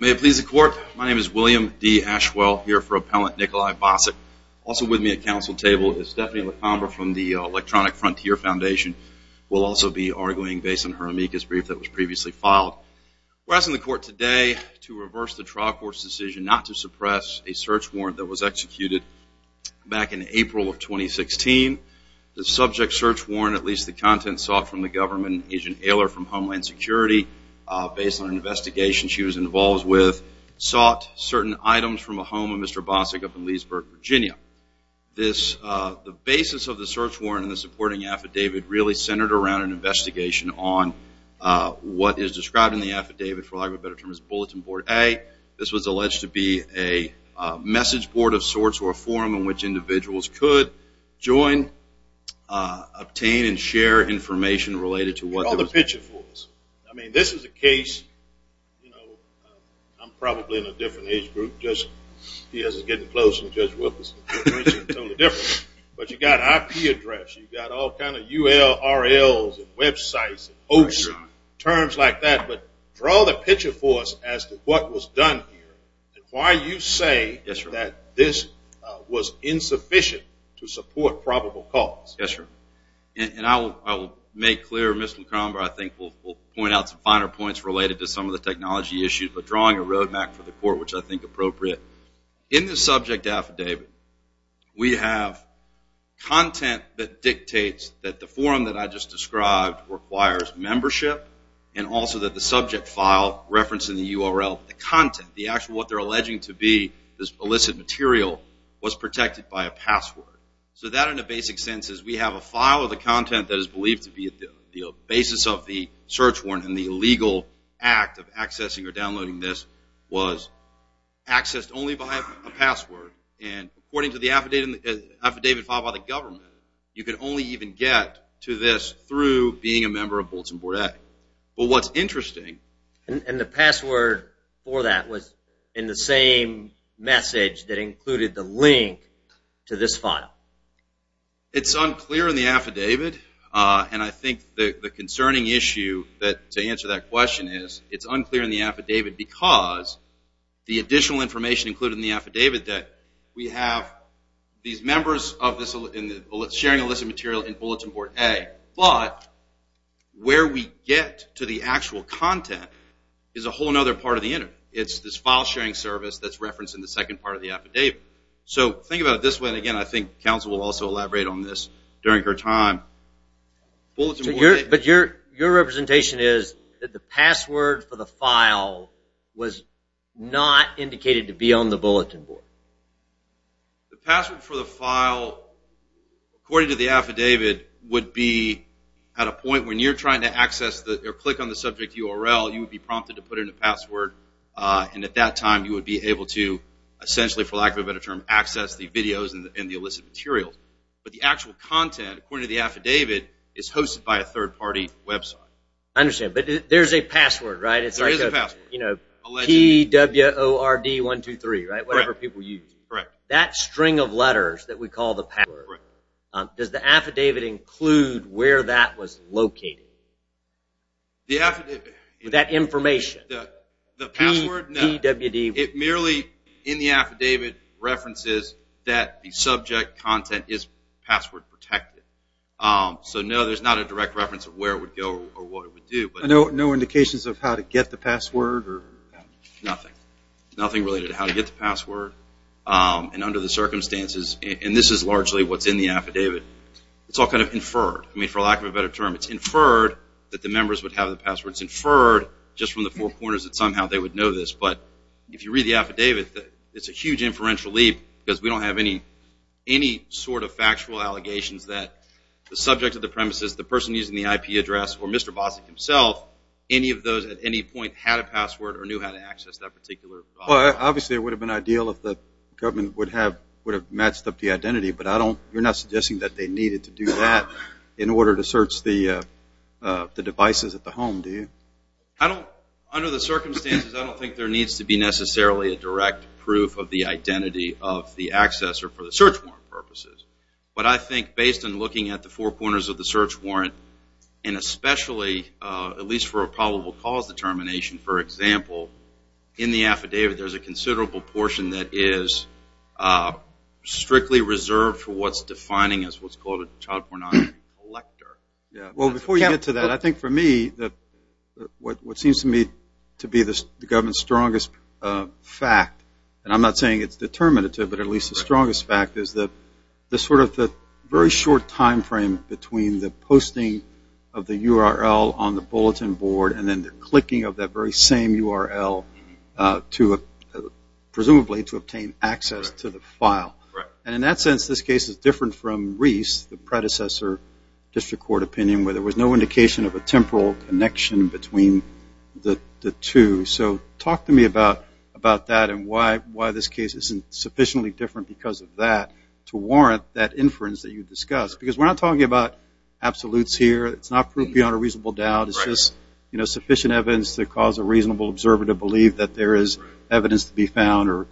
May it please the court, my name is William D. Ashwell, here for appellant Nikolai Bosyk. Also with me at council table is Stephanie LaCombra from the Electronic Frontier Foundation. We'll also be arguing based on her amicus brief that was previously filed. We're asking the court today to reverse the trial court's decision not to suppress a search warrant until April of 2016. The subject search warrant, at least the content sought from the government, Agent Ehler from Homeland Security, based on an investigation she was involved with, sought certain items from a home of Mr. Bosyk up in Leesburg, Virginia. The basis of the search warrant and the supporting affidavit really centered around an investigation on what is described in the affidavit, for lack of a better term, as Bulletin Board A. This was alleged to be a message board of sorts or a forum in which individuals could join, obtain, and share information related to what was... Draw the picture for us. I mean, this is a case, you know, I'm probably in a different age group, just because it's getting close to Judge Wilkerson, totally different. But you've got IP address, you've got all kind of URL's and websites and hosts and terms like that. But draw the picture for us as to what was done here and why you say that this was insufficient to support probable cause. Yes, sir. And I will make clear, Mr. LaCromber, I think we'll point out some finer points related to some of the technology issues, but drawing a road map for the court, which I think appropriate. In the subject affidavit, we have content that dictates that the forum that I just described requires membership and also that the subject file referenced in the URL, the content, the actual, what they're alleging to be this illicit material, was protected by a password. So that, in a basic sense, is we have a file of the content that is believed to be the basis of the search warrant and the legal act of accessing or downloading this was accessed only by a password. And according to the affidavit filed by the government, you can only even get to this through being a member of Bulletin Board A. But what's interesting... And the password for that was in the same message that included the link to this file. It's unclear in the affidavit, and I think the concerning issue to answer that question is it's unclear in the affidavit because the additional information included in the affidavit that we have these members sharing illicit material in Bulletin Board A, but where we get to the actual content is a whole other part of the interview. It's this file sharing service that's referenced in the second part of the affidavit. So think about it this way, and again, I think counsel will also elaborate on this during her time. But your representation is that the password for the file was not indicated to be on the Bulletin Board. The password for the file, according to the affidavit, would be at a point when you're trying to access or click on the subject URL, you would be prompted to put in a password, and at that time you would be able to essentially, for lack of a better term, access the videos and the illicit material. But the actual content, according to the affidavit, is hosted by a third-party website. I understand, but there's a password, right? There is a password. It's like P-W-O-R-D-1-2-3, right, whatever people use. Correct. That string of letters that we call the password, does the affidavit include where that was located? The affidavit. That information. The password? No. P-W-D. It merely, in the affidavit, references that the subject content is password protected. So, no, there's not a direct reference of where it would go or what it would do. No indications of how to get the password? Nothing. Nothing related to how to get the password. And under the circumstances, and this is largely what's in the affidavit, it's all kind of inferred. I mean, for lack of a better term, it's inferred that the members would have the password. It's inferred just from the four corners that somehow they would know this. But if you read the affidavit, it's a huge inferential leap because we don't have any sort of factual allegations that the subject of the premises, the person using the IP address, or Mr. Bosick himself, any of those at any point had a password or knew how to access that particular problem. Obviously, it would have been ideal if the government would have matched up the identity, but you're not suggesting that they needed to do that in order to search the devices at the home, do you? Under the circumstances, I don't think there needs to be necessarily a direct proof of the identity of the accessor for the search warrant purposes. But I think based on looking at the four corners of the search warrant, and especially at least for a probable cause determination, for example, in the affidavit there's a considerable portion that is strictly reserved for what's defining as what's called a child pornography collector. Well, before you get to that, I think for me what seems to me to be the government's strongest fact, and I'm not saying it's determinative, but at least the strongest fact, is the very short time frame between the posting of the URL on the bulletin board and then the clicking of that very same URL, presumably to obtain access to the file. And in that sense, this case is different from Reese, the predecessor district court opinion, where there was no indication of a temporal connection between the two. So talk to me about that and why this case isn't sufficiently different because of that to warrant that inference that you discussed. Because we're not talking about absolutes here. It's not proof beyond a reasonable doubt. It's just sufficient evidence to cause a reasonable observer to believe that there is evidence to be found or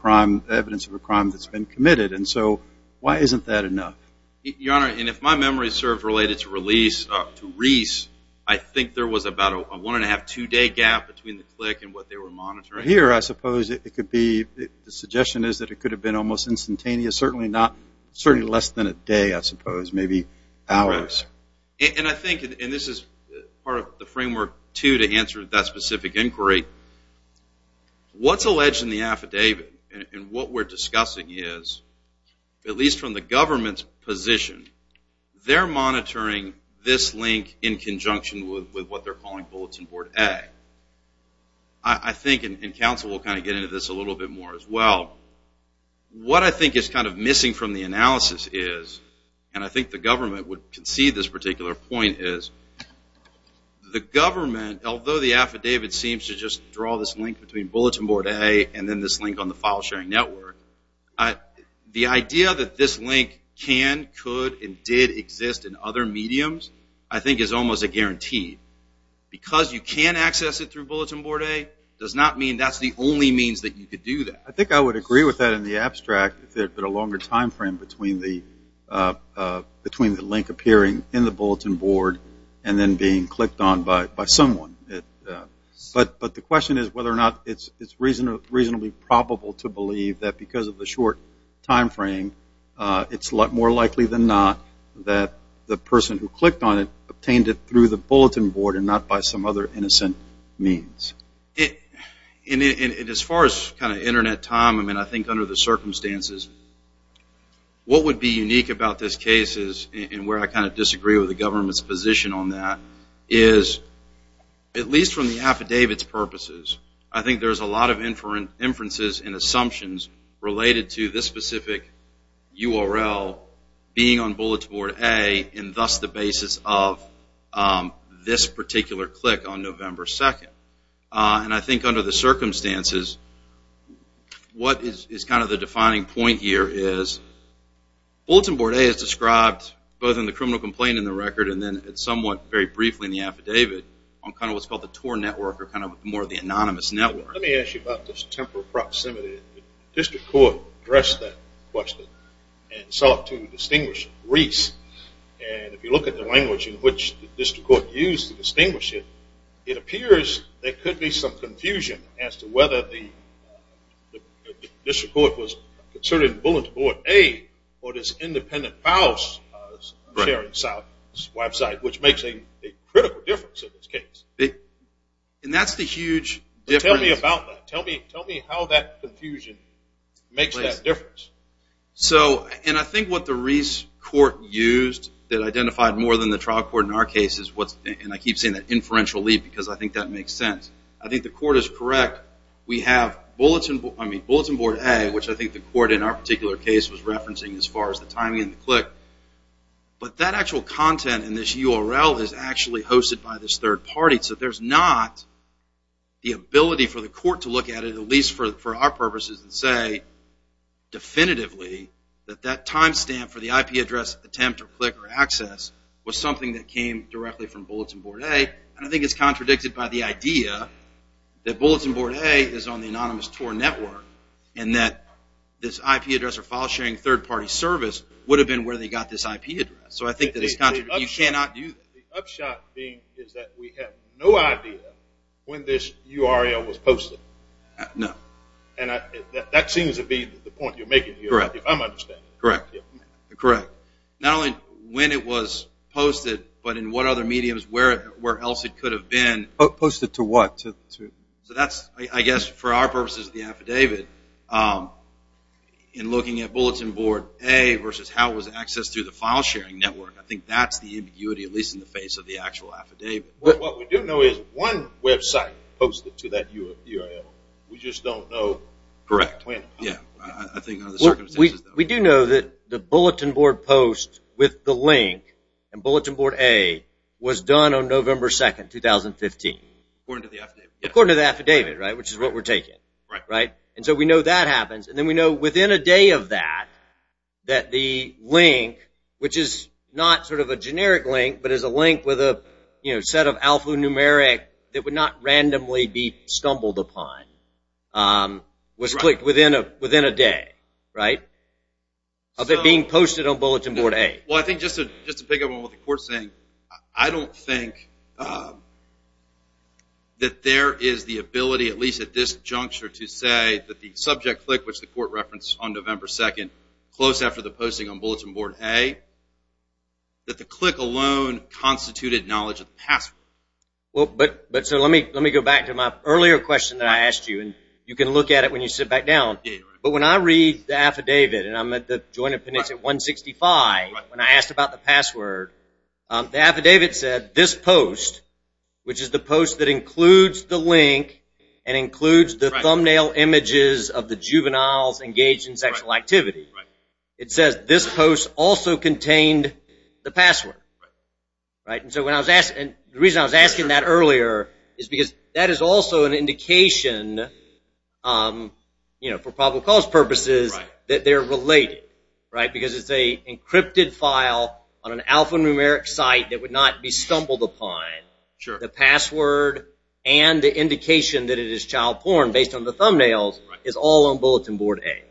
evidence of a crime that's been committed. And so why isn't that enough? Your Honor, and if my memory serves related to Reese, I think there was about a one-and-a-half, two-day gap between the click and what they were monitoring. Here, I suppose it could be, the suggestion is that it could have been almost instantaneous, certainly less than a day, I suppose, maybe hours. And I think, and this is part of the framework, too, to answer that specific inquiry, what's alleged in the affidavit and what we're discussing is, at least from the government's position, they're monitoring this link in conjunction with what they're calling Bulletin Board A. I think, and counsel will kind of get into this a little bit more as well, what I think is kind of missing from the analysis is, and I think the government would concede this particular point is, the government, although the affidavit seems to just draw this link between Bulletin Board A and then this link on the file-sharing network, the idea that this link can, could, and did exist in other mediums, I think is almost a guarantee. Because you can access it through Bulletin Board A, does not mean that's the only means that you could do that. I think I would agree with that in the abstract, if there had been a longer time frame between the link appearing in the Bulletin Board and then being clicked on by someone. But the question is whether or not it's reasonably probable to believe that because of the short time frame, it's more likely than not that the person who clicked on it obtained it through the Bulletin Board and not by some other innocent means. And as far as kind of Internet time, I mean, I think under the circumstances, what would be unique about this case is, and where I kind of disagree with the government's position on that, is, at least from the affidavit's purposes, I think there's a lot of inferences and assumptions related to this specific URL being on Bulletin Board A and thus the basis of this particular click on November 2nd. And I think under the circumstances, what is kind of the defining point here is, Bulletin Board A is described both in the criminal complaint in the record and then somewhat very briefly in the affidavit on kind of what's called the TOR network or kind of more the anonymous network. Let me ask you about this temporal proximity. The district court addressed that question and sought to distinguish Reese. And if you look at the language in which the district court used to distinguish it, it appears there could be some confusion as to whether the district court was concerned in Bulletin Board A or this independent files sharing site, which makes a critical difference in this case. And that's the huge difference. Tell me about that. Tell me how that confusion makes that difference. And I think what the Reese court used that identified more than the trial court in our case is what's... And I keep saying that inferential leap because I think that makes sense. I think the court is correct. We have Bulletin Board A, which I think the court in our particular case was referencing as far as the timing and the click. But that actual content in this URL is actually hosted by this third party. So there's not the ability for the court to look at it, at least for our purposes, and say definitively that that time stamp for the IP address attempt or click or access was something that came directly from Bulletin Board A. And I think it's contradicted by the idea that Bulletin Board A is on the anonymous TOR network and that this IP address or file sharing third party service would have been where they got this IP address. So I think you cannot do that. The upshot being is that we have no idea when this URL was posted. No. And that seems to be the point you're making here, if I'm understanding it. Correct. Not only when it was posted, but in what other mediums, where else it could have been. Posted to what? So that's, I guess, for our purposes, the affidavit, in looking at Bulletin Board A versus how it was accessed through the file sharing network. I think that's the ambiguity, at least in the face of the actual affidavit. What we do know is one website posted to that URL. We just don't know when. Correct. We do know that the Bulletin Board post with the link and Bulletin Board A was done on November 2, 2015. According to the affidavit. According to the affidavit, which is what we're taking. And so we know that happens. And then we know within a day of that, that the link, which is not sort of a generic link, but is a link with a set of alphanumeric that would not randomly be stumbled upon, was clicked within a day, right? Of it being posted on Bulletin Board A. Well, I think just to pick up on what the Court's saying, I don't think that there is the ability, at least at this juncture, to say that the subject click, which the Court referenced on November 2, close after the posting on Bulletin Board A, that the click alone constituted knowledge of the password. But so let me go back to my earlier question that I asked you, and you can look at it when you sit back down. But when I read the affidavit, and I'm at the Joint Opinion at 165, when I asked about the password, the affidavit said, this post, which is the post that includes the link and includes the thumbnail images of the juveniles engaged in sexual activity, it says, this post also contained the password. And so the reason I was asking that earlier is because that is also an indication, for probable cause purposes, that they're related. Because it's an encrypted file on an alphanumeric site that would not be stumbled upon. The password and the indication that it is child porn, based on the thumbnails, is all on Bulletin Board A.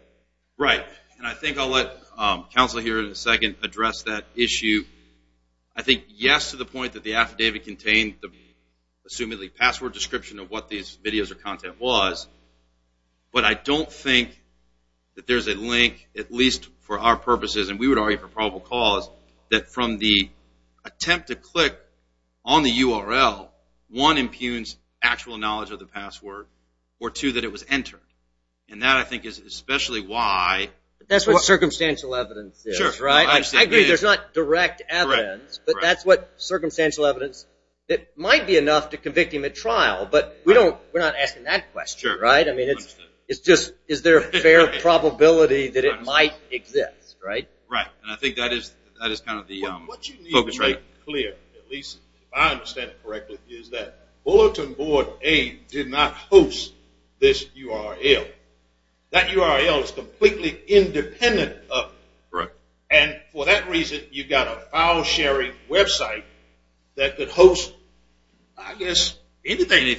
Right. And I think I'll let counsel here in a second address that issue. I think yes to the point that the affidavit contained the, assumedly, password description of what these videos or content was. But I don't think that there's a link, at least for our purposes, and we would argue for probable cause, that from the attempt to click on the URL, one, impugns actual knowledge of the password, or two, that it was entered. And that, I think, is especially why. That's what circumstantial evidence is, right? I agree there's not direct evidence, but that's what circumstantial evidence that might be enough to convict him at trial. But we're not asking that question, right? I mean, it's just is there a fair probability that it might exist, right? Right. And I think that is kind of the focus right now. What you need to be clear, at least if I understand it correctly, is that Bulletin Board A did not host this URL. That URL is completely independent of it. Right. And for that reason, you've got a file sharing website that could host, I guess, anything.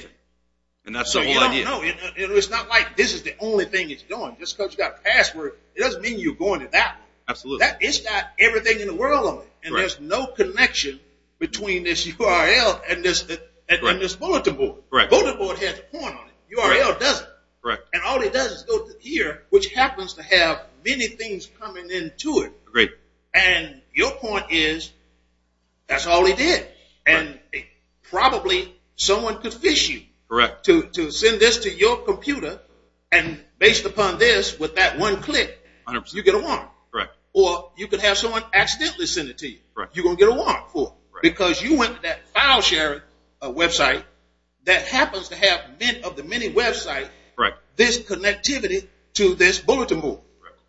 And that's the whole idea. No, you don't know. It's not like this is the only thing it's doing. Just because you've got a password, it doesn't mean you're going to that. Absolutely. It's got everything in the world on it, and there's no connection between this URL and this bulletin board. The bulletin board has a point on it. The URL doesn't. And all it does is go to here, which happens to have many things coming into it. And your point is that's all it did. And probably someone could fish you to send this to your computer, and based upon this, with that one click, you get a warrant. Correct. Or you could have someone accidentally send it to you. Correct. You're going to get a warrant for it, because you went to that file sharing website that happens to have, of the many websites, this connectivity to this bulletin board. Correct.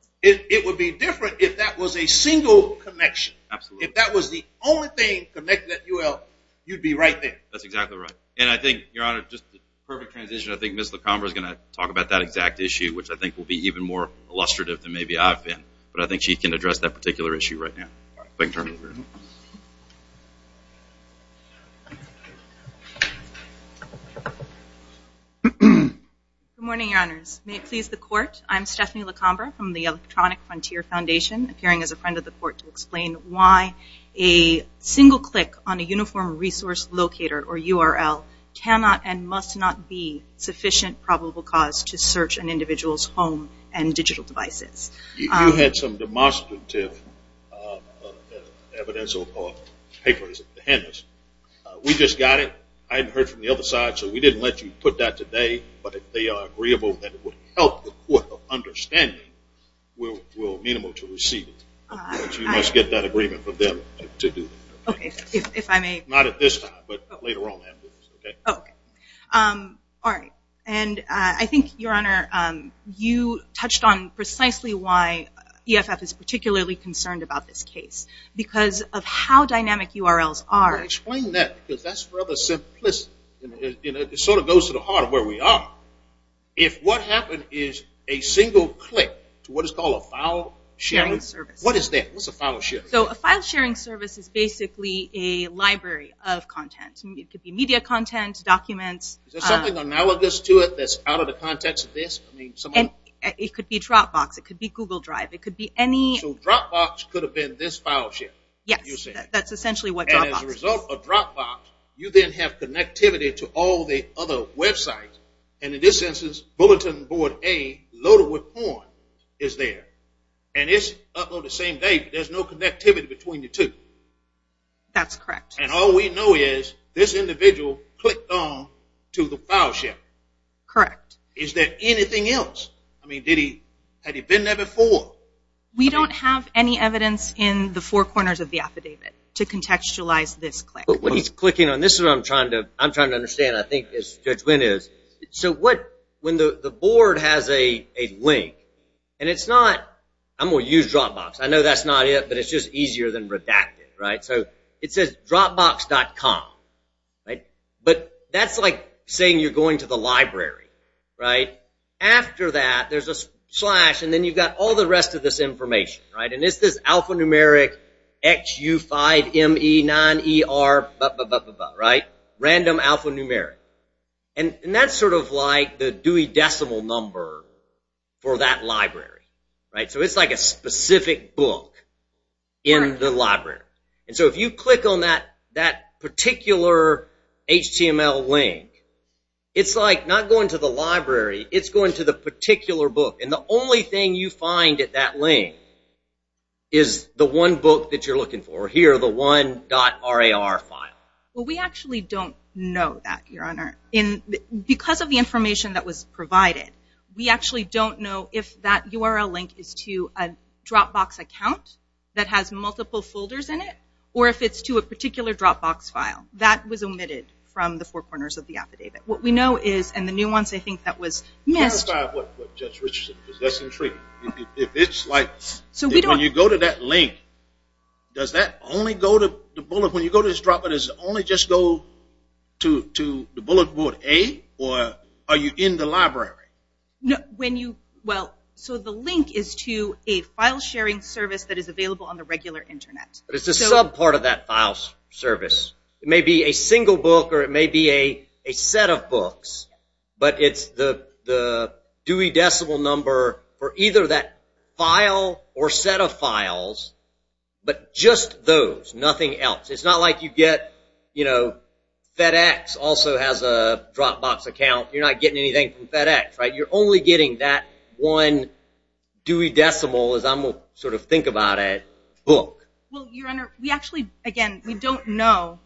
It would be different if that was a single connection. Absolutely. If that was the only thing connected to that URL, you'd be right there. That's exactly right. And I think, Your Honor, just a perfect transition, I think Ms. LaCombe is going to talk about that exact issue, which I think will be even more illustrative than maybe I've been. But I think she can address that particular issue right now. If I can turn it over. Good morning, Your Honors. May it please the Court. I'm Stephanie LaCombe from the Electronic Frontier Foundation, appearing as a friend of the Court to explain why a single click on a uniform resource locator, or URL, cannot and must not be sufficient probable cause to search an individual's home and digital devices. You had some demonstrative evidence or papers at the hand. We just got it. I had heard from the other side, so we didn't let you put that today. But if they are agreeable, then it would help the Court of Understanding will be able to receive it. But you must get that agreement from them to do that. Okay. If I may. Not at this time. But later on. Okay. All right. And I think, Your Honor, you touched on precisely why EFF is particularly concerned about this case. Because of how dynamic URLs are. Explain that. Because that's rather simplistic. It sort of goes to the heart of where we are. If what happened is a single click to what is called a file sharing service. What is that? What's a file sharing service? A file sharing service is basically a library of content. It could be media content, documents. Is there something analogous to it that's out of the context of this? It could be Dropbox. It could be Google Drive. It could be any. So Dropbox could have been this file share. Yes. That's essentially what Dropbox is. And as a result of Dropbox, you then have connectivity to all the other websites. And in this instance, Bulletin Board A loaded with porn is there. And it's up on the same day, but there's no connectivity between the two. That's correct. And all we know is this individual clicked on to the file share. Correct. Is there anything else? I mean, had he been there before? We don't have any evidence in the four corners of the affidavit to contextualize this click. But when he's clicking on this is what I'm trying to understand, I think, as Judge Wynn is. When the board has a link, and it's not, I'm going to use Dropbox. I know that's not it, but it's just easier than redacted. So it says Dropbox.com. But that's like saying you're going to the library. After that, there's a slash, and then you've got all the rest of this information. And it's this alphanumeric XU5ME9ER, right? Random alphanumeric. And that's sort of like the Dewey decimal number for that library, right? So it's like a specific book in the library. And so if you click on that particular HTML link, it's like not going to the library. It's going to the particular book. And the only thing you find at that link is the one book that you're looking for here, the one .rar file. Well, we actually don't know that, Your Honor. Because of the information that was provided, we actually don't know if that URL link is to a Dropbox account that has multiple folders in it or if it's to a particular Dropbox file. That was omitted from the four corners of the affidavit. What we know is, and the nuance, I think, that was missed. Justify what Judge Richardson, because that's intriguing. If it's like, when you go to that link, does that only go to the bullet? When you go to this Dropbox, does it only just go to the bullet, A, or are you in the library? Well, so the link is to a file sharing service that is available on the regular Internet. But it's a sub part of that file service. It may be a single book or it may be a set of books, but it's the Dewey decimal number for either that file or set of files, but just those, nothing else. It's not like you get, you know, FedEx also has a Dropbox account. You're not getting anything from FedEx, right? You're only getting that one Dewey decimal, as I'm going to sort of think about it, book. Well, Your Honor, we actually, again, we don't know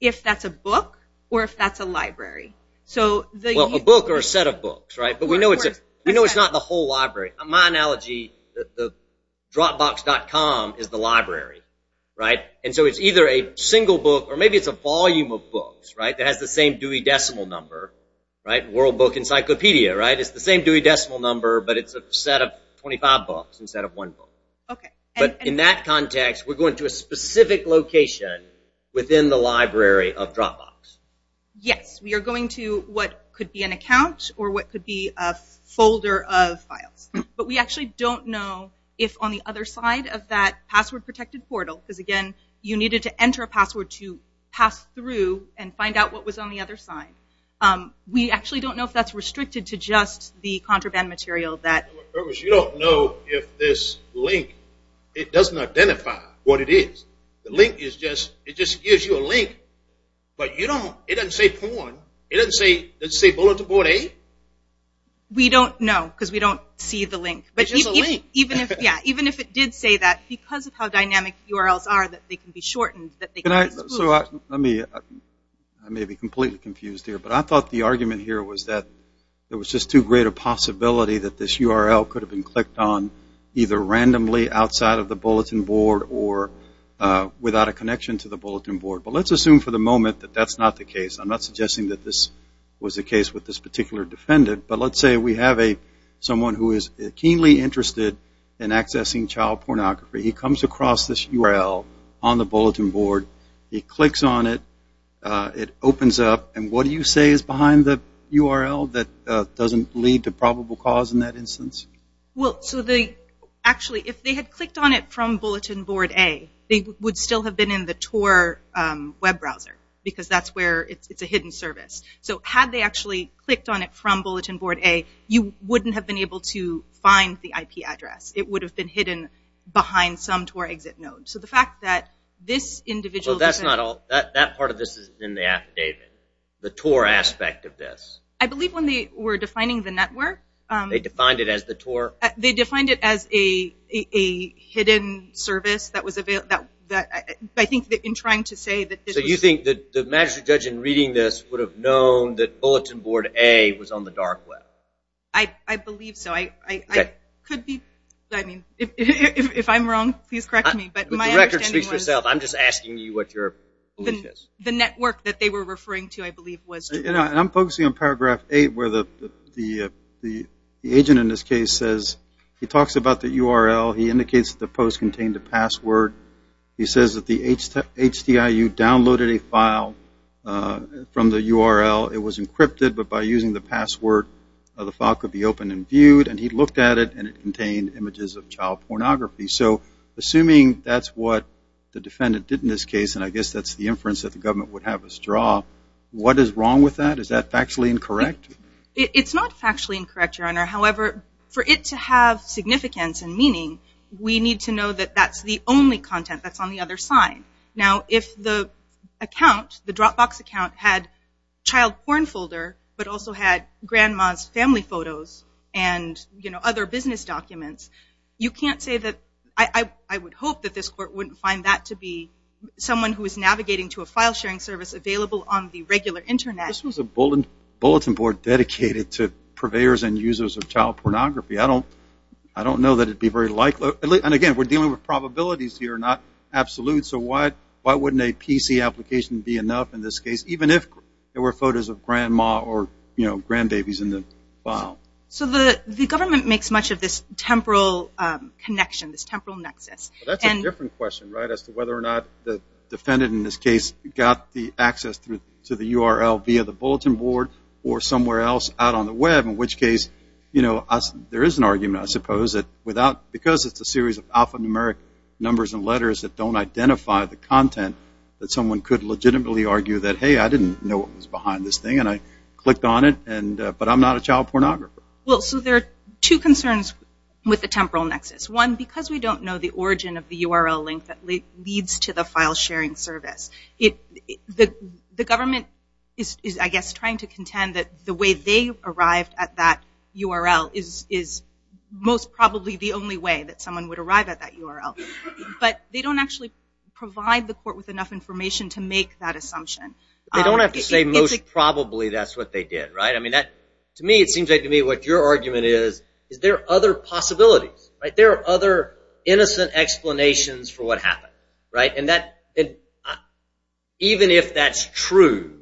if that's a book or if that's a library. Well, a book or a set of books, right? But we know it's not the whole library. My analogy, Dropbox.com is the library, right? And so it's either a single book or maybe it's a volume of books, right, that has the same Dewey decimal number, right? World Book Encyclopedia, right? It's the same Dewey decimal number, but it's a set of 25 books instead of one book. Okay. But in that context, we're going to a specific location within the library of Dropbox. Yes. We are going to what could be an account or what could be a folder of files. But we actually don't know if on the other side of that password-protected portal, because, again, you needed to enter a password to pass through and find out what was on the other side. We actually don't know if that's restricted to just the contraband material. You don't know if this link, it doesn't identify what it is. The link is just, it just gives you a link. But you don't, it doesn't say porn. It doesn't say Bulletin Board A. We don't know because we don't see the link. It's just a link. Yeah. Even if it did say that, because of how dynamic URLs are, that they can be shortened, that they can be smoothed. I may be completely confused here, but I thought the argument here was that there was just too great a possibility that this URL could have been clicked on either randomly outside of the Bulletin Board or without a connection to the Bulletin Board. But let's assume for the moment that that's not the case. I'm not suggesting that this was the case with this particular defendant. But let's say we have someone who is keenly interested in accessing child pornography. He comes across this URL on the Bulletin Board. He clicks on it. It opens up. And what do you say is behind the URL that doesn't lead to probable cause in that instance? Actually, if they had clicked on it from Bulletin Board A, they would still have been in the TOR web browser because that's where it's a hidden service. So had they actually clicked on it from Bulletin Board A, you wouldn't have been able to find the IP address. It would have been hidden behind some TOR exit node. So the fact that this individual defendant... Well, that part of this is in the affidavit, the TOR aspect of this. I believe when they were defining the network... They defined it as the TOR? They defined it as a hidden service that was available. I think in trying to say that this was... So you think that the magistrate judge in reading this would have known that Bulletin Board A was on the dark web? I believe so. If I'm wrong, please correct me. But my understanding was... The record speaks for itself. I'm just asking you what your belief is. The network that they were referring to, I believe, was TOR. I'm focusing on Paragraph 8 where the agent in this case says... He talks about the URL. He indicates that the post contained a password. He says that the HDIU downloaded a file from the URL. It was encrypted, but by using the password, the file could be opened and viewed. And he looked at it, and it contained images of child pornography. So assuming that's what the defendant did in this case, and I guess that's the inference that the government would have us draw, what is wrong with that? Is that factually incorrect? It's not factually incorrect, Your Honor. However, for it to have significance and meaning, we need to know that that's the only content that's on the other side. Now, if the account, the Dropbox account, had child porn folder but also had grandma's family photos and other business documents, you can't say that... I would hope that this court wouldn't find that to be someone who is navigating to a file sharing service available on the regular Internet. This was a bulletin board dedicated to purveyors and users of child pornography. I don't know that it would be very likely. And again, we're dealing with probabilities here, not absolutes. So why wouldn't a PC application be enough in this case, even if there were photos of grandma or grandbabies in the file? So the government makes much of this temporal connection, this temporal nexus. That's a different question, right, as to whether or not the defendant in this case got the access to the URL via the bulletin board or somewhere else out on the Web, in which case there is an argument, I suppose, that because it's a series of alphanumeric numbers and letters that don't identify the content, that someone could legitimately argue that, hey, I didn't know what was behind this thing and I clicked on it, but I'm not a child pornographer. Well, so there are two concerns with the temporal nexus. One, because we don't know the origin of the URL link that leads to the file sharing service. The government is, I guess, trying to contend that the way they arrived at that URL is most probably the only way that someone would arrive at that URL. But they don't actually provide the court with enough information to make that assumption. They don't have to say most probably that's what they did, right? I mean, to me, it seems like to me what your argument is, is there are other possibilities, right? There are other innocent explanations for what happened, right? And even if that's true,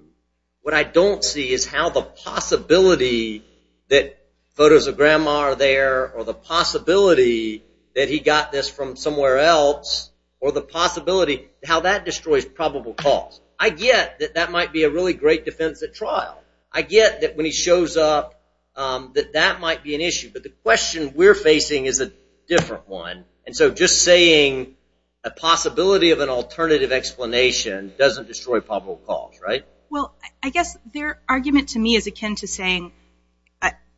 what I don't see is how the possibility that photos of grandma are there or the possibility that he got this from somewhere else or the possibility how that destroys probable cause. I get that that might be a really great defense at trial. I get that when he shows up that that might be an issue, but the question we're facing is a different one. And so just saying a possibility of an alternative explanation doesn't destroy probable cause, right? Well, I guess their argument to me is akin to saying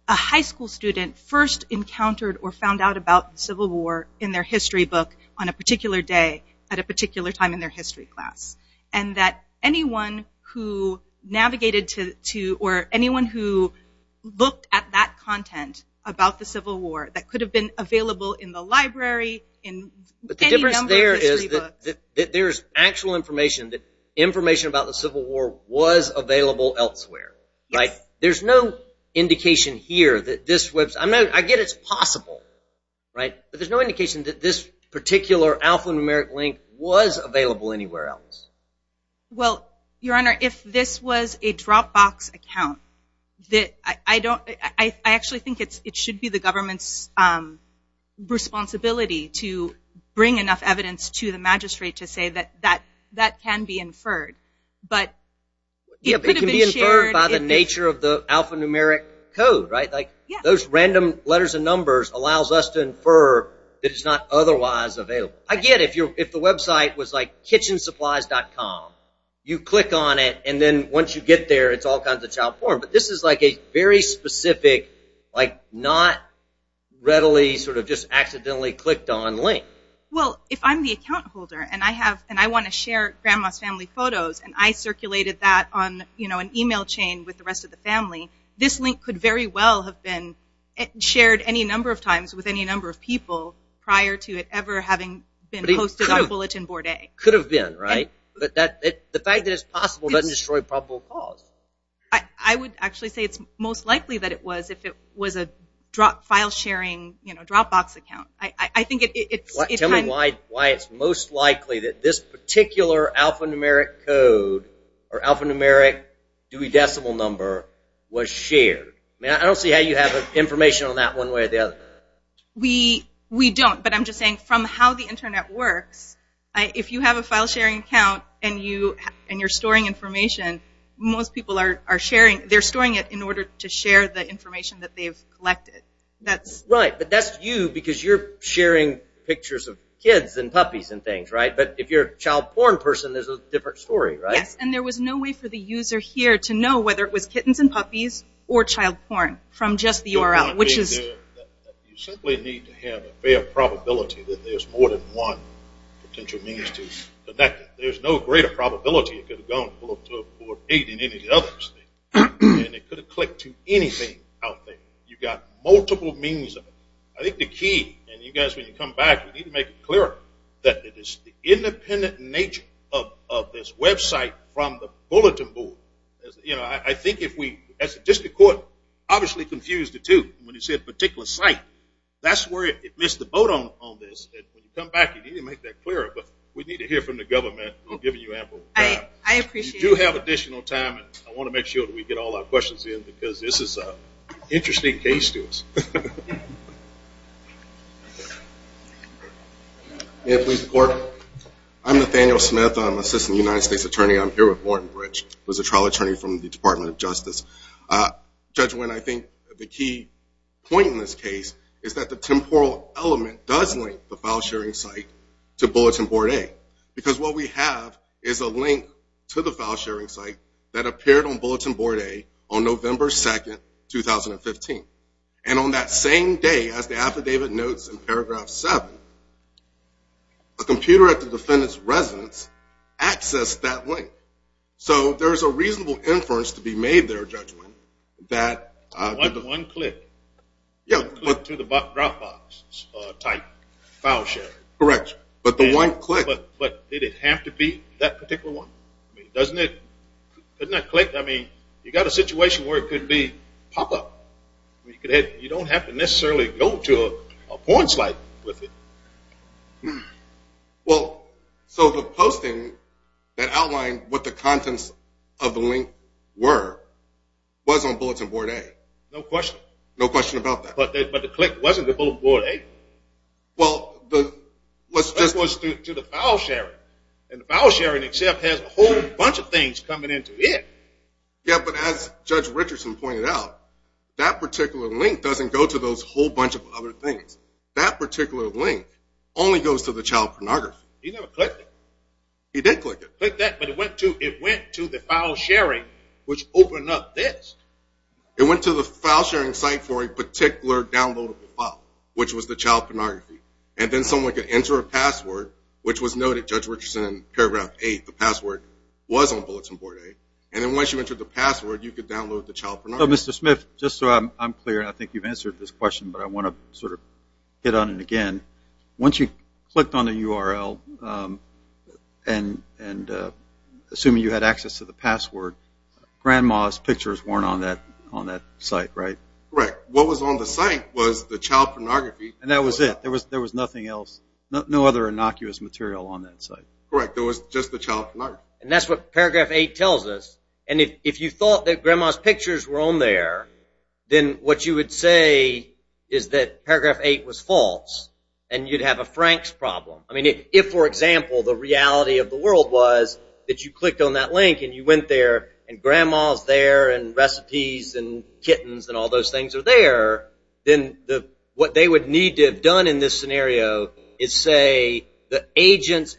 a high school student first encountered or found out about the Civil War in their history book on a particular day at a particular time in their history class. And that anyone who navigated to or anyone who looked at that content about the Civil War that could have been available in the library, in any number of history books. But the difference there is that there's actual information, that information about the Civil War was available elsewhere, right? Yes. There's no indication here that this was – I get it's possible, right? But there's no indication that this particular alphanumeric link was available anywhere else. Well, Your Honor, if this was a Dropbox account, I actually think it should be the government's responsibility to bring enough evidence to the magistrate to say that that can be inferred. But it could have been shared. It can be inferred by the nature of the alphanumeric code, right? Like those random letters and numbers allows us to infer that it's not otherwise available. I get it. If the website was like kitchensupplies.com, you click on it, and then once you get there, it's all kinds of child porn. But this is like a very specific, like not readily, sort of just accidentally clicked on link. Well, if I'm the account holder and I want to share grandma's family photos and I circulated that on an email chain with the rest of the family, this link could very well have been shared any number of times with any number of people prior to it ever having been posted on Bulletin Board A. Could have been, right? The fact that it's possible doesn't destroy probable cause. I would actually say it's most likely that it was if it was a file sharing Dropbox account. Tell me why it's most likely that this particular alphanumeric code or alphanumeric Dewey Decimal number was shared. I don't see how you have information on that one way or the other. We don't, but I'm just saying from how the Internet works, if you have a file sharing account and you're storing information, most people are storing it in order to share the information that they've collected. Right, but that's you because you're sharing pictures of kids and puppies and things, right? But if you're a child porn person, there's a different story, right? Yes, and there was no way for the user here to know whether it was kittens and puppies or child porn from just the URL, which is... You simply need to have a fair probability that there's more than one potential means to connect it. There's no greater probability it could have gone to a board meeting than any of the others. And it could have clicked to anything out there. You've got multiple means of it. I think the key, and you guys, when you come back, you need to make it clear that it is the independent nature of this website from the bulletin board. I think if we, as the district court obviously confused the two when you said particular site, that's where it missed the boat on this. And when you come back, you need to make that clearer. But we need to hear from the government. I'm giving you ample time. I appreciate it. You do have additional time, and I want to make sure that we get all our questions in because this is an interesting case to us. May I please report? I'm Nathaniel Smith. I'm an assistant United States attorney. I'm here with Warren Rich, who is a trial attorney from the Department of Justice. Judge Winn, I think the key point in this case is that the temporal element does link the file sharing site to bulletin board A. Because what we have is a link to the file sharing site that appeared on bulletin board A on November 2, 2015. And on that same day, as the affidavit notes in paragraph 7, a computer at the defendant's residence accessed that link. So there is a reasonable inference to be made there, Judge Winn. One click to the Dropbox type file sharing. Correct. But the one click. But did it have to be that particular one? Doesn't that click? I mean, you've got a situation where it could be pop-up. You don't have to necessarily go to a porn site with it. Well, so the posting that outlined what the contents of the link were, was on bulletin board A. No question. No question about that. But the click wasn't to bulletin board A. Well, let's just. That was to the file sharing. And the file sharing itself has a whole bunch of things coming into it. Yeah, but as Judge Richardson pointed out, that particular link doesn't go to those whole bunch of other things. That particular link only goes to the child pornography. He never clicked it. He did click it. Clicked that, but it went to the file sharing, which opened up this. It went to the file sharing site for a particular downloadable file, which was the child pornography. And then someone could enter a password, which was noted, Judge Richardson, in paragraph 8. The password was on bulletin board A. And then once you entered the password, you could download the child pornography. Mr. Smith, just so I'm clear, and I think you've answered this question, but I want to sort of hit on it again. Once you clicked on the URL, and assuming you had access to the password, Grandma's pictures weren't on that site, right? Correct. What was on the site was the child pornography. And that was it. There was nothing else, no other innocuous material on that site. Correct. There was just the child pornography. And that's what paragraph 8 tells us. And if you thought that Grandma's pictures were on there, then what you would say is that paragraph 8 was false, and you'd have a Franks problem. I mean, if, for example, the reality of the world was that you clicked on that link and you went there and Grandma's there and recipes and kittens and all those things are there, then what they would need to have done in this scenario is say the agent's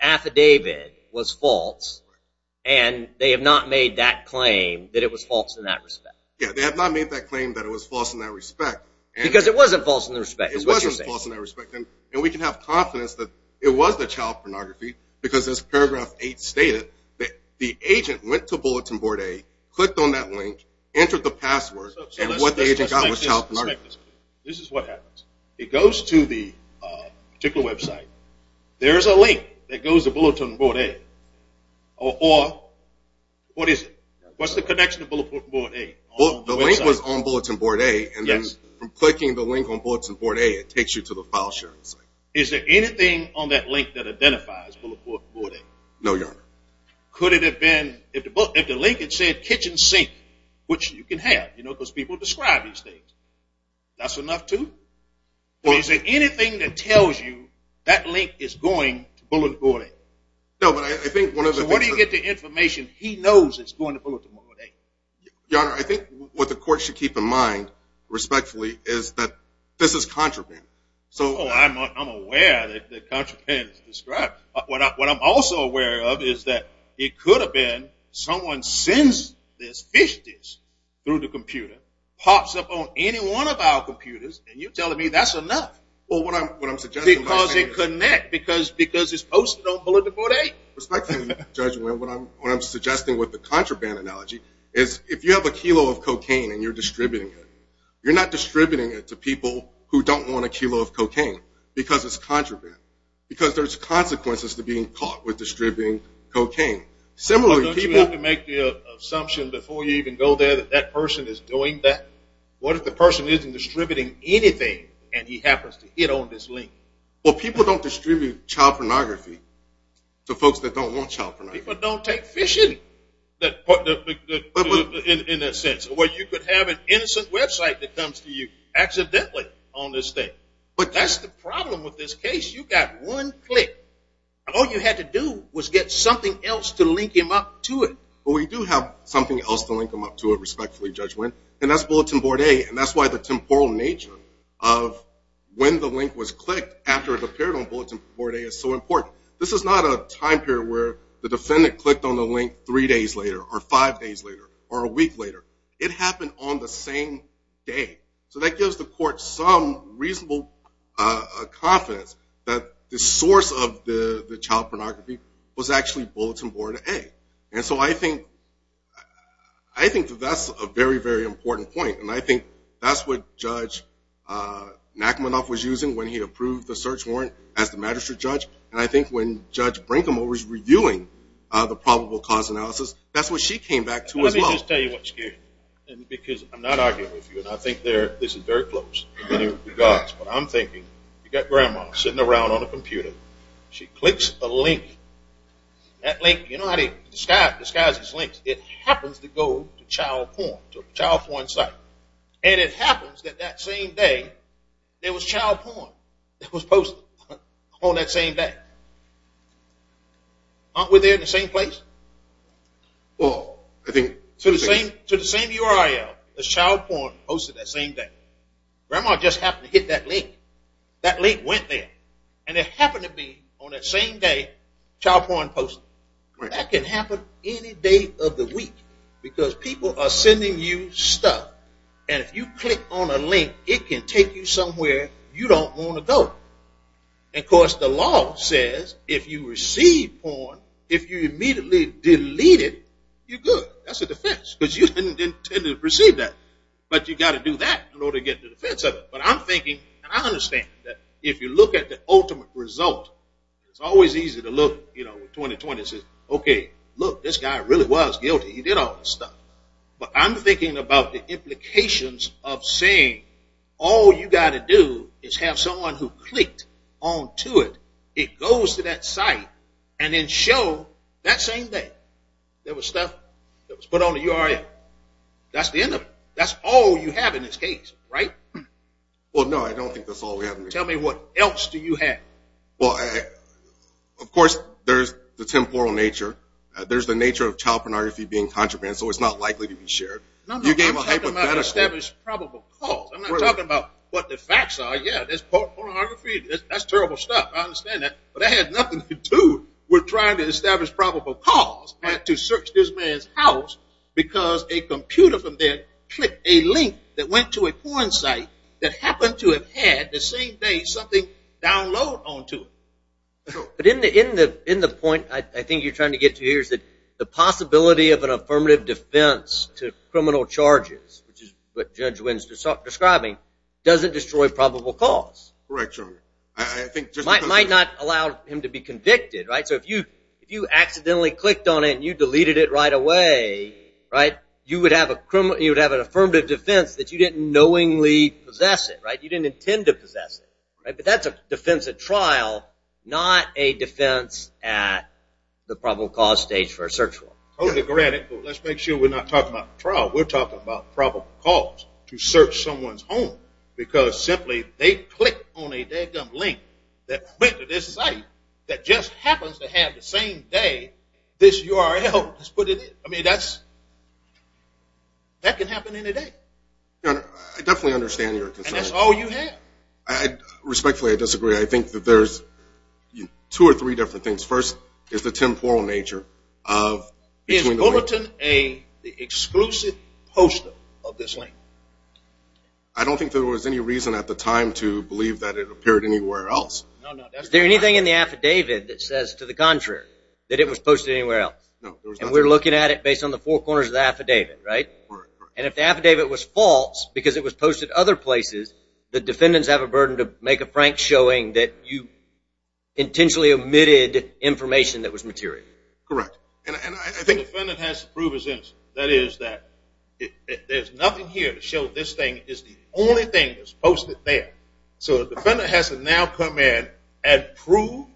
And they have not made that claim that it was false in that respect. Yeah, they have not made that claim that it was false in that respect. Because it wasn't false in that respect. It wasn't false in that respect. And we can have confidence that it was the child pornography, because as paragraph 8 stated, the agent went to Bulletin Board A, clicked on that link, entered the password, and what the agent got was child pornography. This is what happens. It goes to the particular website. There is a link that goes to Bulletin Board A. Or what is it? What's the connection to Bulletin Board A? The link was on Bulletin Board A, and then from clicking the link on Bulletin Board A, it takes you to the file sharing site. Is there anything on that link that identifies Bulletin Board A? No, Your Honor. Could it have been if the link had said kitchen sink, That's enough, too? Is there anything that tells you that link is going to Bulletin Board A? No, but I think one of the things... So what do you get the information he knows is going to Bulletin Board A? Your Honor, I think what the court should keep in mind, respectfully, is that this is contraband. Oh, I'm aware that contraband is described. What I'm also aware of is that it could have been someone sends this fish dish through the computer, pops up on any one of our computers, and you're telling me that's enough. Because it connects, because it's posted on Bulletin Board A. Respectfully, Your Honor, what I'm suggesting with the contraband analogy is if you have a kilo of cocaine and you're distributing it, you're not distributing it to people who don't want a kilo of cocaine because it's contraband, because there's consequences to being caught with distributing cocaine. Don't you want to make the assumption before you even go there that that person is doing that? What if the person isn't distributing anything and he happens to hit on this link? Well, people don't distribute child pornography to folks that don't want child pornography. People don't take fishing in that sense, where you could have an innocent website that comes to you accidentally on this thing. But that's the problem with this case. You've got one click, and all you had to do was get something else to link him up to it. Well, we do have something else to link him up to it, respectfully, Judge Wynn, and that's Bulletin Board A, and that's why the temporal nature of when the link was clicked after it appeared on Bulletin Board A is so important. This is not a time period where the defendant clicked on the link three days later or five days later or a week later. It happened on the same day. So that gives the court some reasonable confidence that the source of the child pornography was actually Bulletin Board A. And so I think that that's a very, very important point, and I think that's what Judge Nachmanoff was using when he approved the search warrant as the magistrate judge, and I think when Judge Brinkham was reviewing the probable cause analysis, that's what she came back to as well. Let me just tell you what's scary, because I'm not arguing with you, and I think this is very close in many regards, but I'm thinking you've got Grandma sitting around on a computer. She clicks a link. That link, you know how the sky has its links. It happens to go to child porn, to a child porn site, and it happens that that same day there was child porn that was posted on that same day. Aren't we there in the same place? Well, I think to the same URL, there's child porn posted that same day. Grandma just happened to hit that link. That link went there, and it happened to be on that same day, child porn posted. That can happen any day of the week, because people are sending you stuff, and if you click on a link, it can take you somewhere you don't want to go. Of course, the law says if you receive porn, if you immediately delete it, you're good. That's a defense, because you didn't intend to receive that, but you've got to do that in order to get the defense of it. But I'm thinking, and I understand that if you look at the ultimate result, it's always easy to look at 2020 and say, okay, look, this guy really was guilty. He did all this stuff. But I'm thinking about the implications of saying all you've got to do is have someone who clicked onto it. It goes to that site, and then show that same day there was stuff that was put on the URL. That's the end of it. That's all you have in this case, right? Well, no, I don't think that's all we have in this case. Tell me what else do you have? Well, of course, there's the temporal nature. There's the nature of child pornography being contraband, so it's not likely to be shared. No, no, I'm talking about established probable cause. I'm not talking about what the facts are. Yeah, there's pornography. That's terrible stuff. I understand that. But that has nothing to do with trying to establish probable cause and to search this man's house because a computer from there clicked a link that went to a porn site that happened to have had the same day something downloaded onto it. But in the point I think you're trying to get to here is that the possibility of an affirmative defense to criminal charges, which is what Judge Winstead's describing, doesn't destroy probable cause. Correct, Your Honor. It might not allow him to be convicted, right? So if you accidentally clicked on it and you deleted it right away, you would have an affirmative defense that you didn't knowingly possess it. You didn't intend to possess it. But that's a defense at trial, not a defense at the probable cause stage for a search warrant. Hold it granted, but let's make sure we're not talking about the trial. We're talking about probable cause to search someone's home because simply they clicked on a link that went to this site that just happens to have the same day this URL was put in it. I mean, that can happen any day. Your Honor, I definitely understand your concern. And that's all you have. Respectfully, I disagree. I think that there's two or three different things. First is the temporal nature of the link. Is Bulletin A the exclusive poster of this link? I don't think there was any reason at the time to believe that it appeared anywhere else. Is there anything in the affidavit that says to the contrary, that it was posted anywhere else? And we're looking at it based on the four corners of the affidavit, right? And if the affidavit was false because it was posted other places, the defendants have a burden to make a frank showing that you intentionally omitted information that was material. Correct. The defendant has to prove his innocence. That is, that there's nothing here to show this thing is the only thing that's posted there. So the defendant has to now come in and prove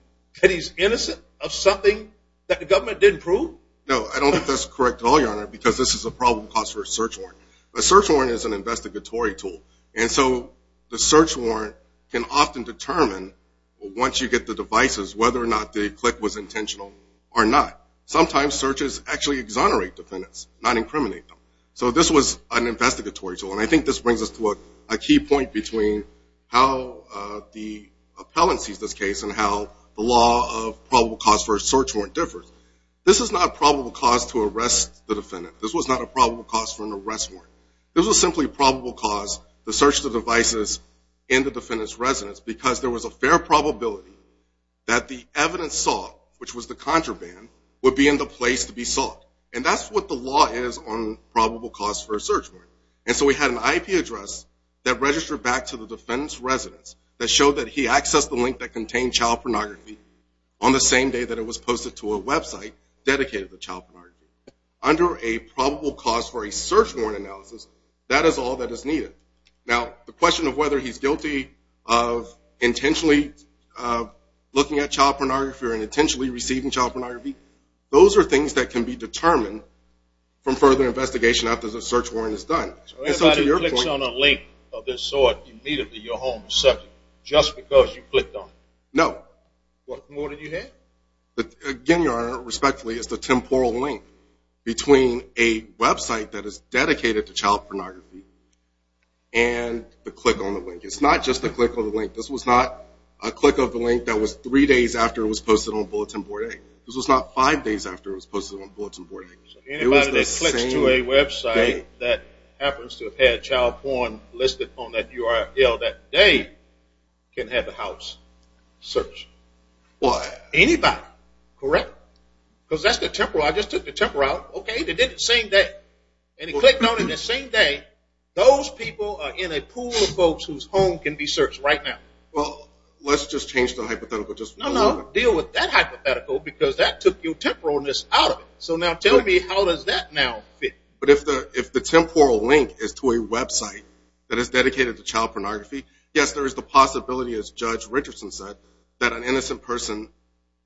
that he's innocent of something that the government didn't prove? No, I don't think that's correct at all, Your Honor, because this is a problem caused for a search warrant. A search warrant is an investigatory tool. And so the search warrant can often determine, once you get the devices, whether or not the click was intentional or not. Sometimes searches actually exonerate defendants, not incriminate them. So this was an investigatory tool. And I think this brings us to a key point between how the appellant sees this case and how the law of probable cause for a search warrant differs. This is not probable cause to arrest the defendant. This was not a probable cause for an arrest warrant. This was simply probable cause to search the devices and the defendant's residence because there was a fair probability that the evidence saw, which was the contraband, would be in the place to be sought. And that's what the law is on probable cause for a search warrant. And so we had an IP address that registered back to the defendant's residence that showed that he accessed the link that contained child pornography on the same day that it was posted to a website dedicated to child pornography. Under a probable cause for a search warrant analysis, that is all that is needed. Now, the question of whether he's guilty of intentionally looking at child pornography or intentionally receiving child pornography, those are things that can be determined from further investigation after the search warrant is done. So everybody who clicks on a link of this sort immediately, your home or subject, just because you clicked on it? No. What more did you hear? Again, Your Honor, respectfully, it's the temporal link between a website that is dedicated to child pornography and the click on the link. It's not just the click on the link. This was not a click of the link that was three days after it was posted on Bulletin Board A. This was not five days after it was posted on Bulletin Board A. Anybody that clicks to a website that happens to have had child porn listed on that URL that day can have a house searched. What? Anybody. Correct? Because that's the temporal. I just took the temporal out. Okay, they did it the same day. And he clicked on it the same day. Those people are in a pool of folks whose home can be searched right now. Well, let's just change the hypothetical. No, no, deal with that hypothetical because that took your temporalness out of it. So now tell me how does that now fit? But if the temporal link is to a website that is dedicated to child pornography, yes, there is the possibility, as Judge Richardson said, that an innocent person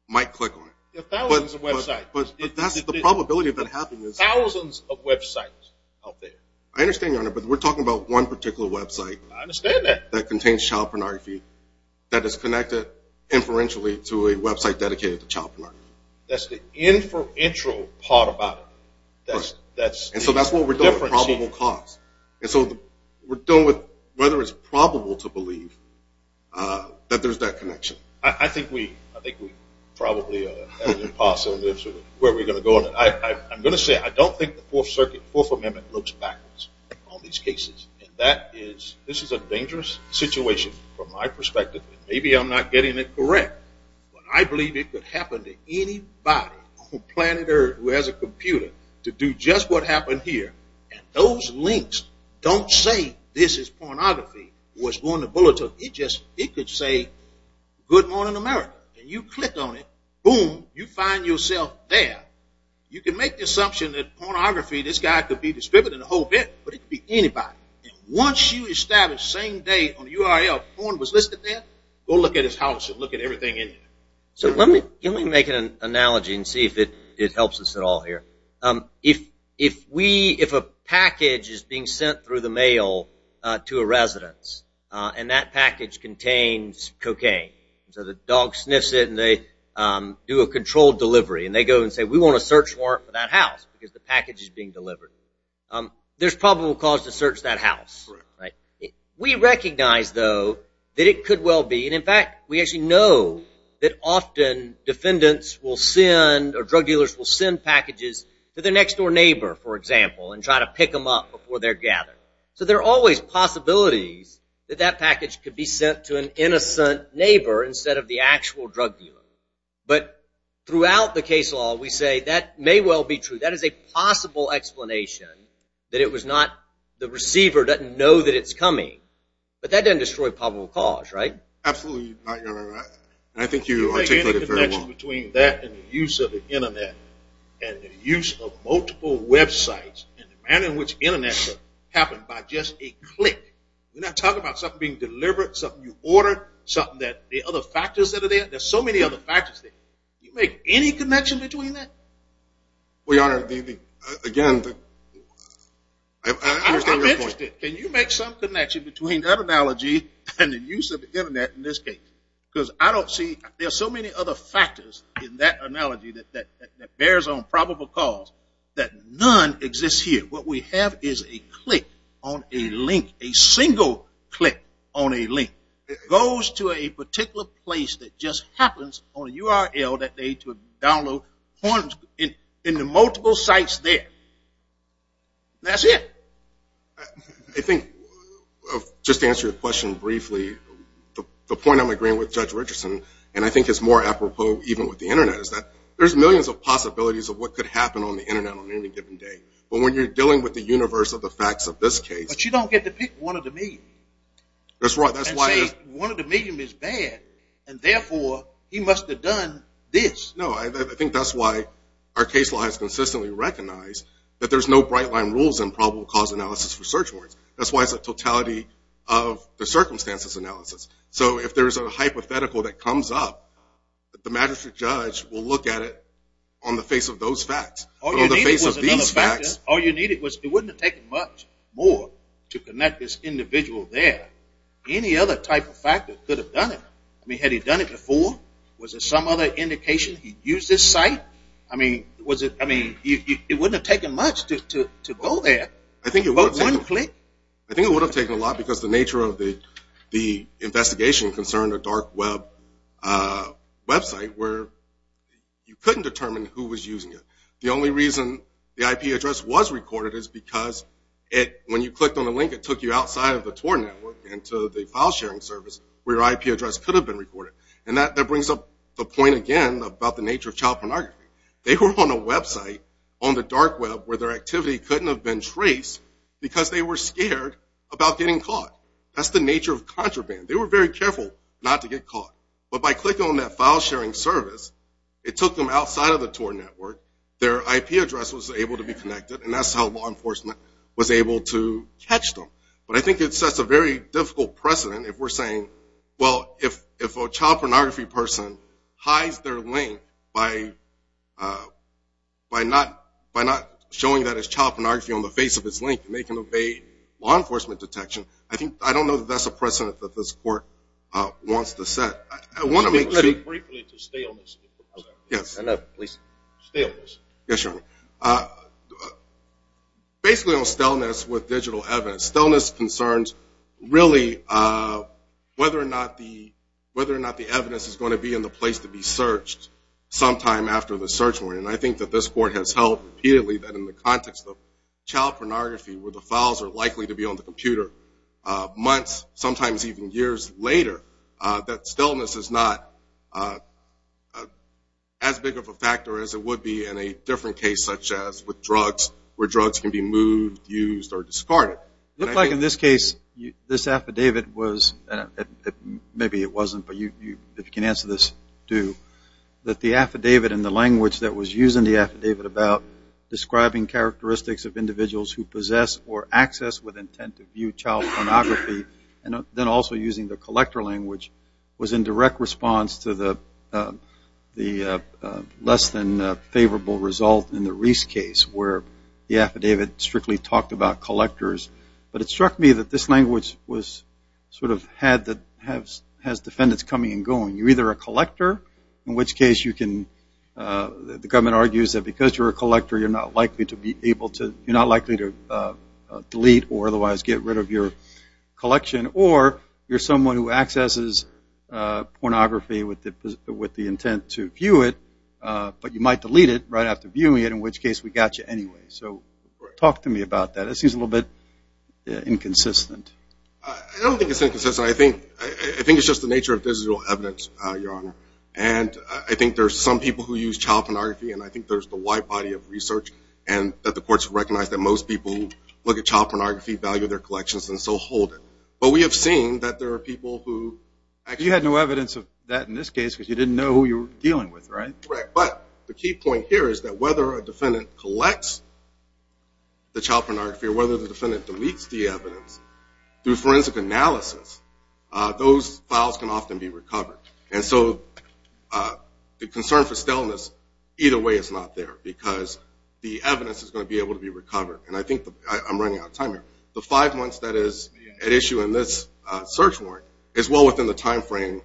might click on it. Thousands of websites. But that's the probability of that happening. Thousands of websites out there. I understand, Your Honor, but we're talking about one particular website. I understand that. That contains child pornography that is connected inferentially to a website dedicated to child pornography. That's the inferential part about it. And so that's what we're dealing with, probable cause. And so we're dealing with whether it's probable to believe that there's that connection. I think we probably are at an impasse on where we're going to go on it. I'm going to say I don't think the Fourth Amendment looks backwards in all these cases. And this is a dangerous situation from my perspective. Maybe I'm not getting it correct. But I believe it could happen to anybody on planet Earth who has a computer to do just what happened here. And those links don't say this is pornography. It was on the bulletin. It could say good morning, America. And you click on it. And boom, you find yourself there. You can make the assumption that pornography, this guy could be distributed a whole bit, but it could be anybody. And once you establish same day on the URL porn was listed there, go look at his house and look at everything in there. So let me make an analogy and see if it helps us at all here. If a package is being sent through the mail to a residence and that package contains cocaine, so the dog sniffs it and they do a controlled delivery. And they go and say we want a search warrant for that house because the package is being delivered. There's probable cause to search that house. We recognize, though, that it could well be. And, in fact, we actually know that often defendants will send or drug dealers will send packages to their next door neighbor, for example, and try to pick them up before they're gathered. So there are always possibilities that that package could be sent to an innocent neighbor instead of the actual drug dealer. But throughout the case law, we say that may well be true. That is a possible explanation that it was not the receiver doesn't know that it's coming. But that doesn't destroy probable cause, right? Absolutely. I think you articulated it very well. The connection between that and the use of the Internet and the use of multiple websites and the manner in which the Internet happened by just a click. We're not talking about something being delivered, something you ordered, something that the other factors that are there. There are so many other factors there. Do you make any connection between that? Well, Your Honor, again, I understand your point. I'm interested. Can you make some connection between that analogy and the use of the Internet in this case? Because I don't see – there are so many other factors in that analogy that bears on probable cause that none exists here. What we have is a click on a link, a single click on a link. It goes to a particular place that just happens on a URL that they need to download into multiple sites there. That's it. I think, just to answer your question briefly, the point I'm agreeing with Judge Richardson, and I think it's more apropos even with the Internet, is that there's millions of possibilities of what could happen on the Internet on any given day. But when you're dealing with the universe of the facts of this case – But you don't get to pick one of the million. That's right. And say one of the million is bad, and therefore he must have done this. No, I think that's why our case law has consistently recognized that there's no bright-line rules in probable cause analysis for search warrants. That's why it's a totality of the circumstances analysis. So if there's a hypothetical that comes up, the magistrate judge will look at it on the face of those facts. All you needed was another factor. All you needed was – it wouldn't have taken much more to connect this individual there. Any other type of factor could have done it. I mean, had he done it before? Was there some other indication he'd used this site? I mean, it wouldn't have taken much to go there. One click? I think it would have taken a lot because the nature of the investigation concerned a dark web website where you couldn't determine who was using it. The only reason the IP address was recorded is because when you clicked on the link, it took you outside of the TOR network into the file-sharing service where your IP address could have been recorded. And that brings up the point again about the nature of child pornography. They were on a website on the dark web where their activity couldn't have been traced because they were scared about getting caught. That's the nature of contraband. They were very careful not to get caught. But by clicking on that file-sharing service, it took them outside of the TOR network. Their IP address was able to be connected, and that's how law enforcement was able to catch them. But I think it sets a very difficult precedent if we're saying, well, if a child pornography person hides their link by not showing that it's child pornography on the face of its link and they can evade law enforcement detection, I don't know that that's a precedent that this court wants to set. I want to make a statement. Can you speak briefly to staleness? Yes. Basically on staleness with digital evidence. Staleness concerns really whether or not the evidence is going to be in the place to be searched sometime after the search warrant. And I think that this court has held repeatedly that in the context of child pornography where the files are likely to be on the computer months, sometimes even years later, that staleness is not as big of a factor as it would be in a different case such as with drugs where drugs can be moved, used, or discarded. It looks like in this case, this affidavit was, maybe it wasn't, but if you can answer this, do, that the affidavit and the language that was used in the affidavit about describing characteristics of individuals who possess or access with intent to view child pornography and then also using the collector language was in direct response to the less than favorable result in the Reese case where the affidavit strictly talked about collectors. But it struck me that this language was sort of had the, has defendants coming and going. You're either a collector, in which case you can, the government argues that because you're a collector, you're not likely to be able to, you're not likely to delete or otherwise get rid of your collection, or you're someone who accesses pornography with the intent to view it, but you might delete it right after viewing it, in which case we got you anyway. So talk to me about that. It seems a little bit inconsistent. I don't think it's inconsistent. I think it's just the nature of physical evidence, Your Honor. And I think there's some people who use child pornography, and I think there's the wide body of research and that the courts recognize that most people who look at child pornography value their collections and so hold it. But we have seen that there are people who actually... But the key point here is that whether a defendant collects the child pornography or whether the defendant deletes the evidence, through forensic analysis, those files can often be recovered. And so the concern for staleness, either way it's not there because the evidence is going to be able to be recovered. And I think I'm running out of time here. The five months that is at issue in this search warrant is well within the time frame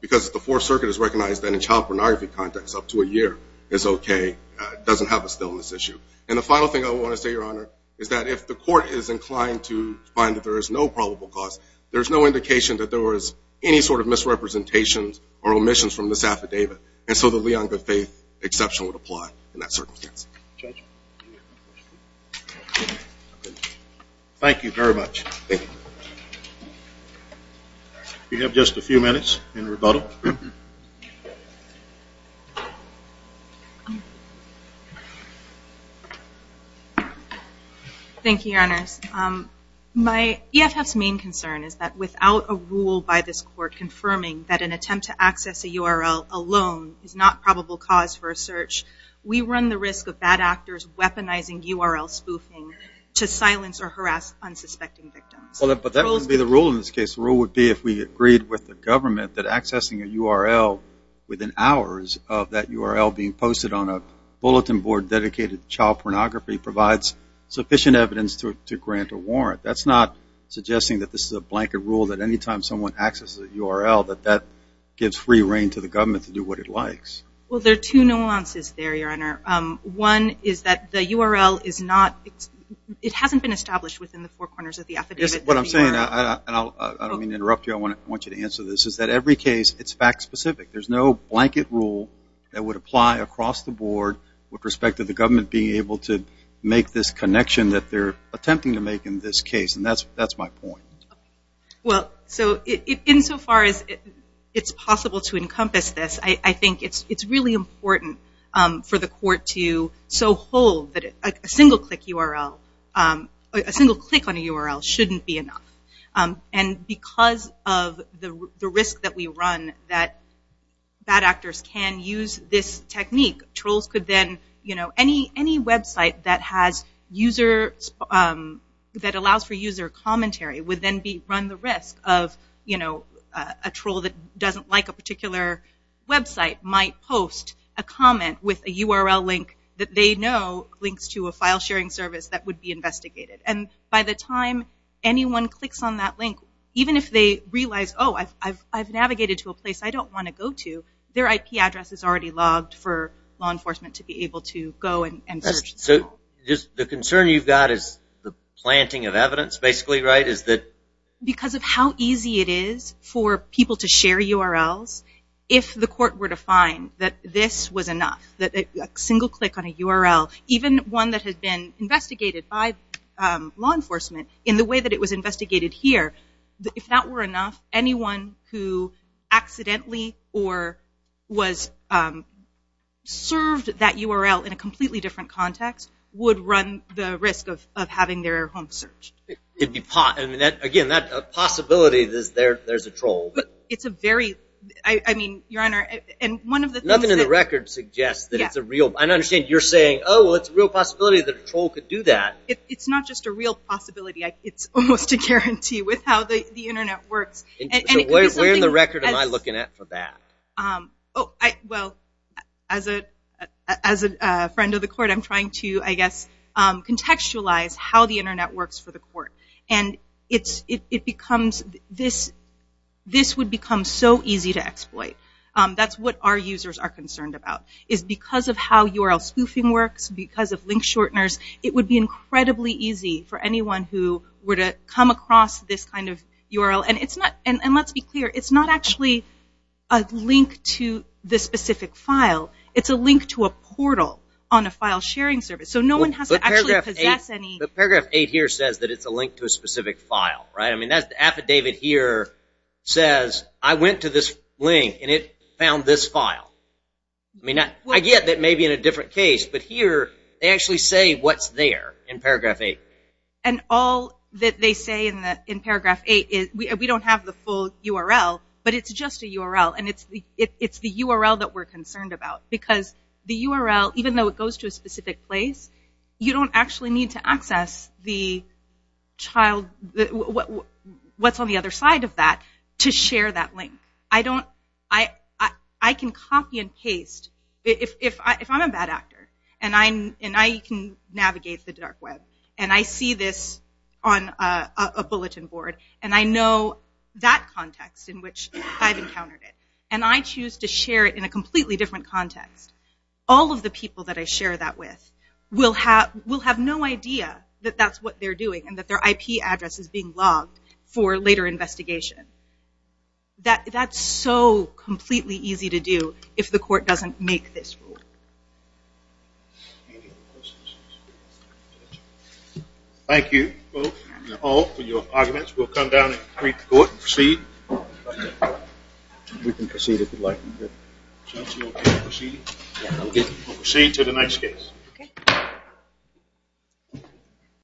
because the Fourth Circuit has recognized that in a child pornography context up to a year is okay. It doesn't have a staleness issue. And the final thing I want to say, Your Honor, is that if the court is inclined to find that there is no probable cause, there is no indication that there was any sort of misrepresentations or omissions from this affidavit. And so the Leon Goodfaith exception would apply in that circumstance. Thank you very much. We have just a few minutes in rebuttal. Thank you, Your Honor. My EFF's main concern is that without a rule by this court confirming that an attempt to access a URL alone is not probable cause for a search, we run the risk of bad actors weaponizing URL spoofing to silence or harass unsuspecting victims. But that wouldn't be the rule in this case. The rule would be if we agreed with the government that accessing a URL within hours of that URL being posted on a bulletin board dedicated to child pornography provides sufficient evidence to grant a warrant. That's not suggesting that this is a blanket rule that anytime someone accesses a URL that that gives free reign to the government to do what it likes. Well, there are two nuances there, Your Honor. One is that the URL is not, it hasn't been established within the four corners of the affidavit. What I'm saying, and I don't mean to interrupt you, I want you to answer this, is that every case it's fact specific. There's no blanket rule that would apply across the board with respect to the government being able to make this connection that they're attempting to make in this case, and that's my point. Insofar as it's possible to encompass this, I think it's really important for the court to so hold that a single click on a URL shouldn't be enough. And because of the risk that we run that bad actors can use this technique, trolls could then, any website that allows for user commentary would then run the risk of a troll that doesn't like a particular website might post a comment with a URL link that they know links to a file sharing service that would be investigated. And by the time anyone clicks on that link, even if they realize, oh I've navigated to a place I don't want to go to, their IP address is already logged for law enforcement to be able to go and search. So the concern you've got is the planting of evidence basically, right? Because of how easy it is for people to share URLs, if the court were to find that this was enough, that a single click on a URL, even one that has been investigated by law enforcement in the way that it was investigated here, if that were enough, anyone who accidentally or served that URL in a completely different context would run the risk of having their home searched. Again, that possibility that there's a troll. Nothing in the record suggests that it's a real possibility that a troll could do that. It's not just a real possibility, it's almost a guarantee with how the internet works. Where in the record am I looking at for that? As a friend of the court, I'm trying to contextualize how the internet works for the court. This would become so easy to exploit. That's what our users are concerned about. Because of how URL spoofing works, because of link shorteners, it would be incredibly easy for anyone who would come across this kind of URL. Let's be clear, it's not actually a link to the specific file, it's a link to a portal on a file sharing service. So no one has to actually possess any... Paragraph 8 here says it's a link to a specific file. The affidavit here says, I went to this link and it found this file. I get that it may be in a different case, but here they actually say what's there in paragraph 8. All that they say in paragraph 8 is, we don't have the full URL, but it's just a URL. It's the URL that we're concerned about. The URL, even though it goes to a specific place, you don't actually need to access what's on the other side of that to share that link. I can copy and paste. If I'm a bad actor, and I can navigate the dark web, and I see this on a bulletin board, and I know that context in which I've encountered it, and I choose to share it in a completely different context, all of the people that I share that with will have no idea that that's what they're doing and that their IP address is being logged for later investigation. That's so completely easy to do if the court doesn't make this rule. Thank you both and all for your arguments. We'll come down and greet the court and proceed. We'll proceed to the next case.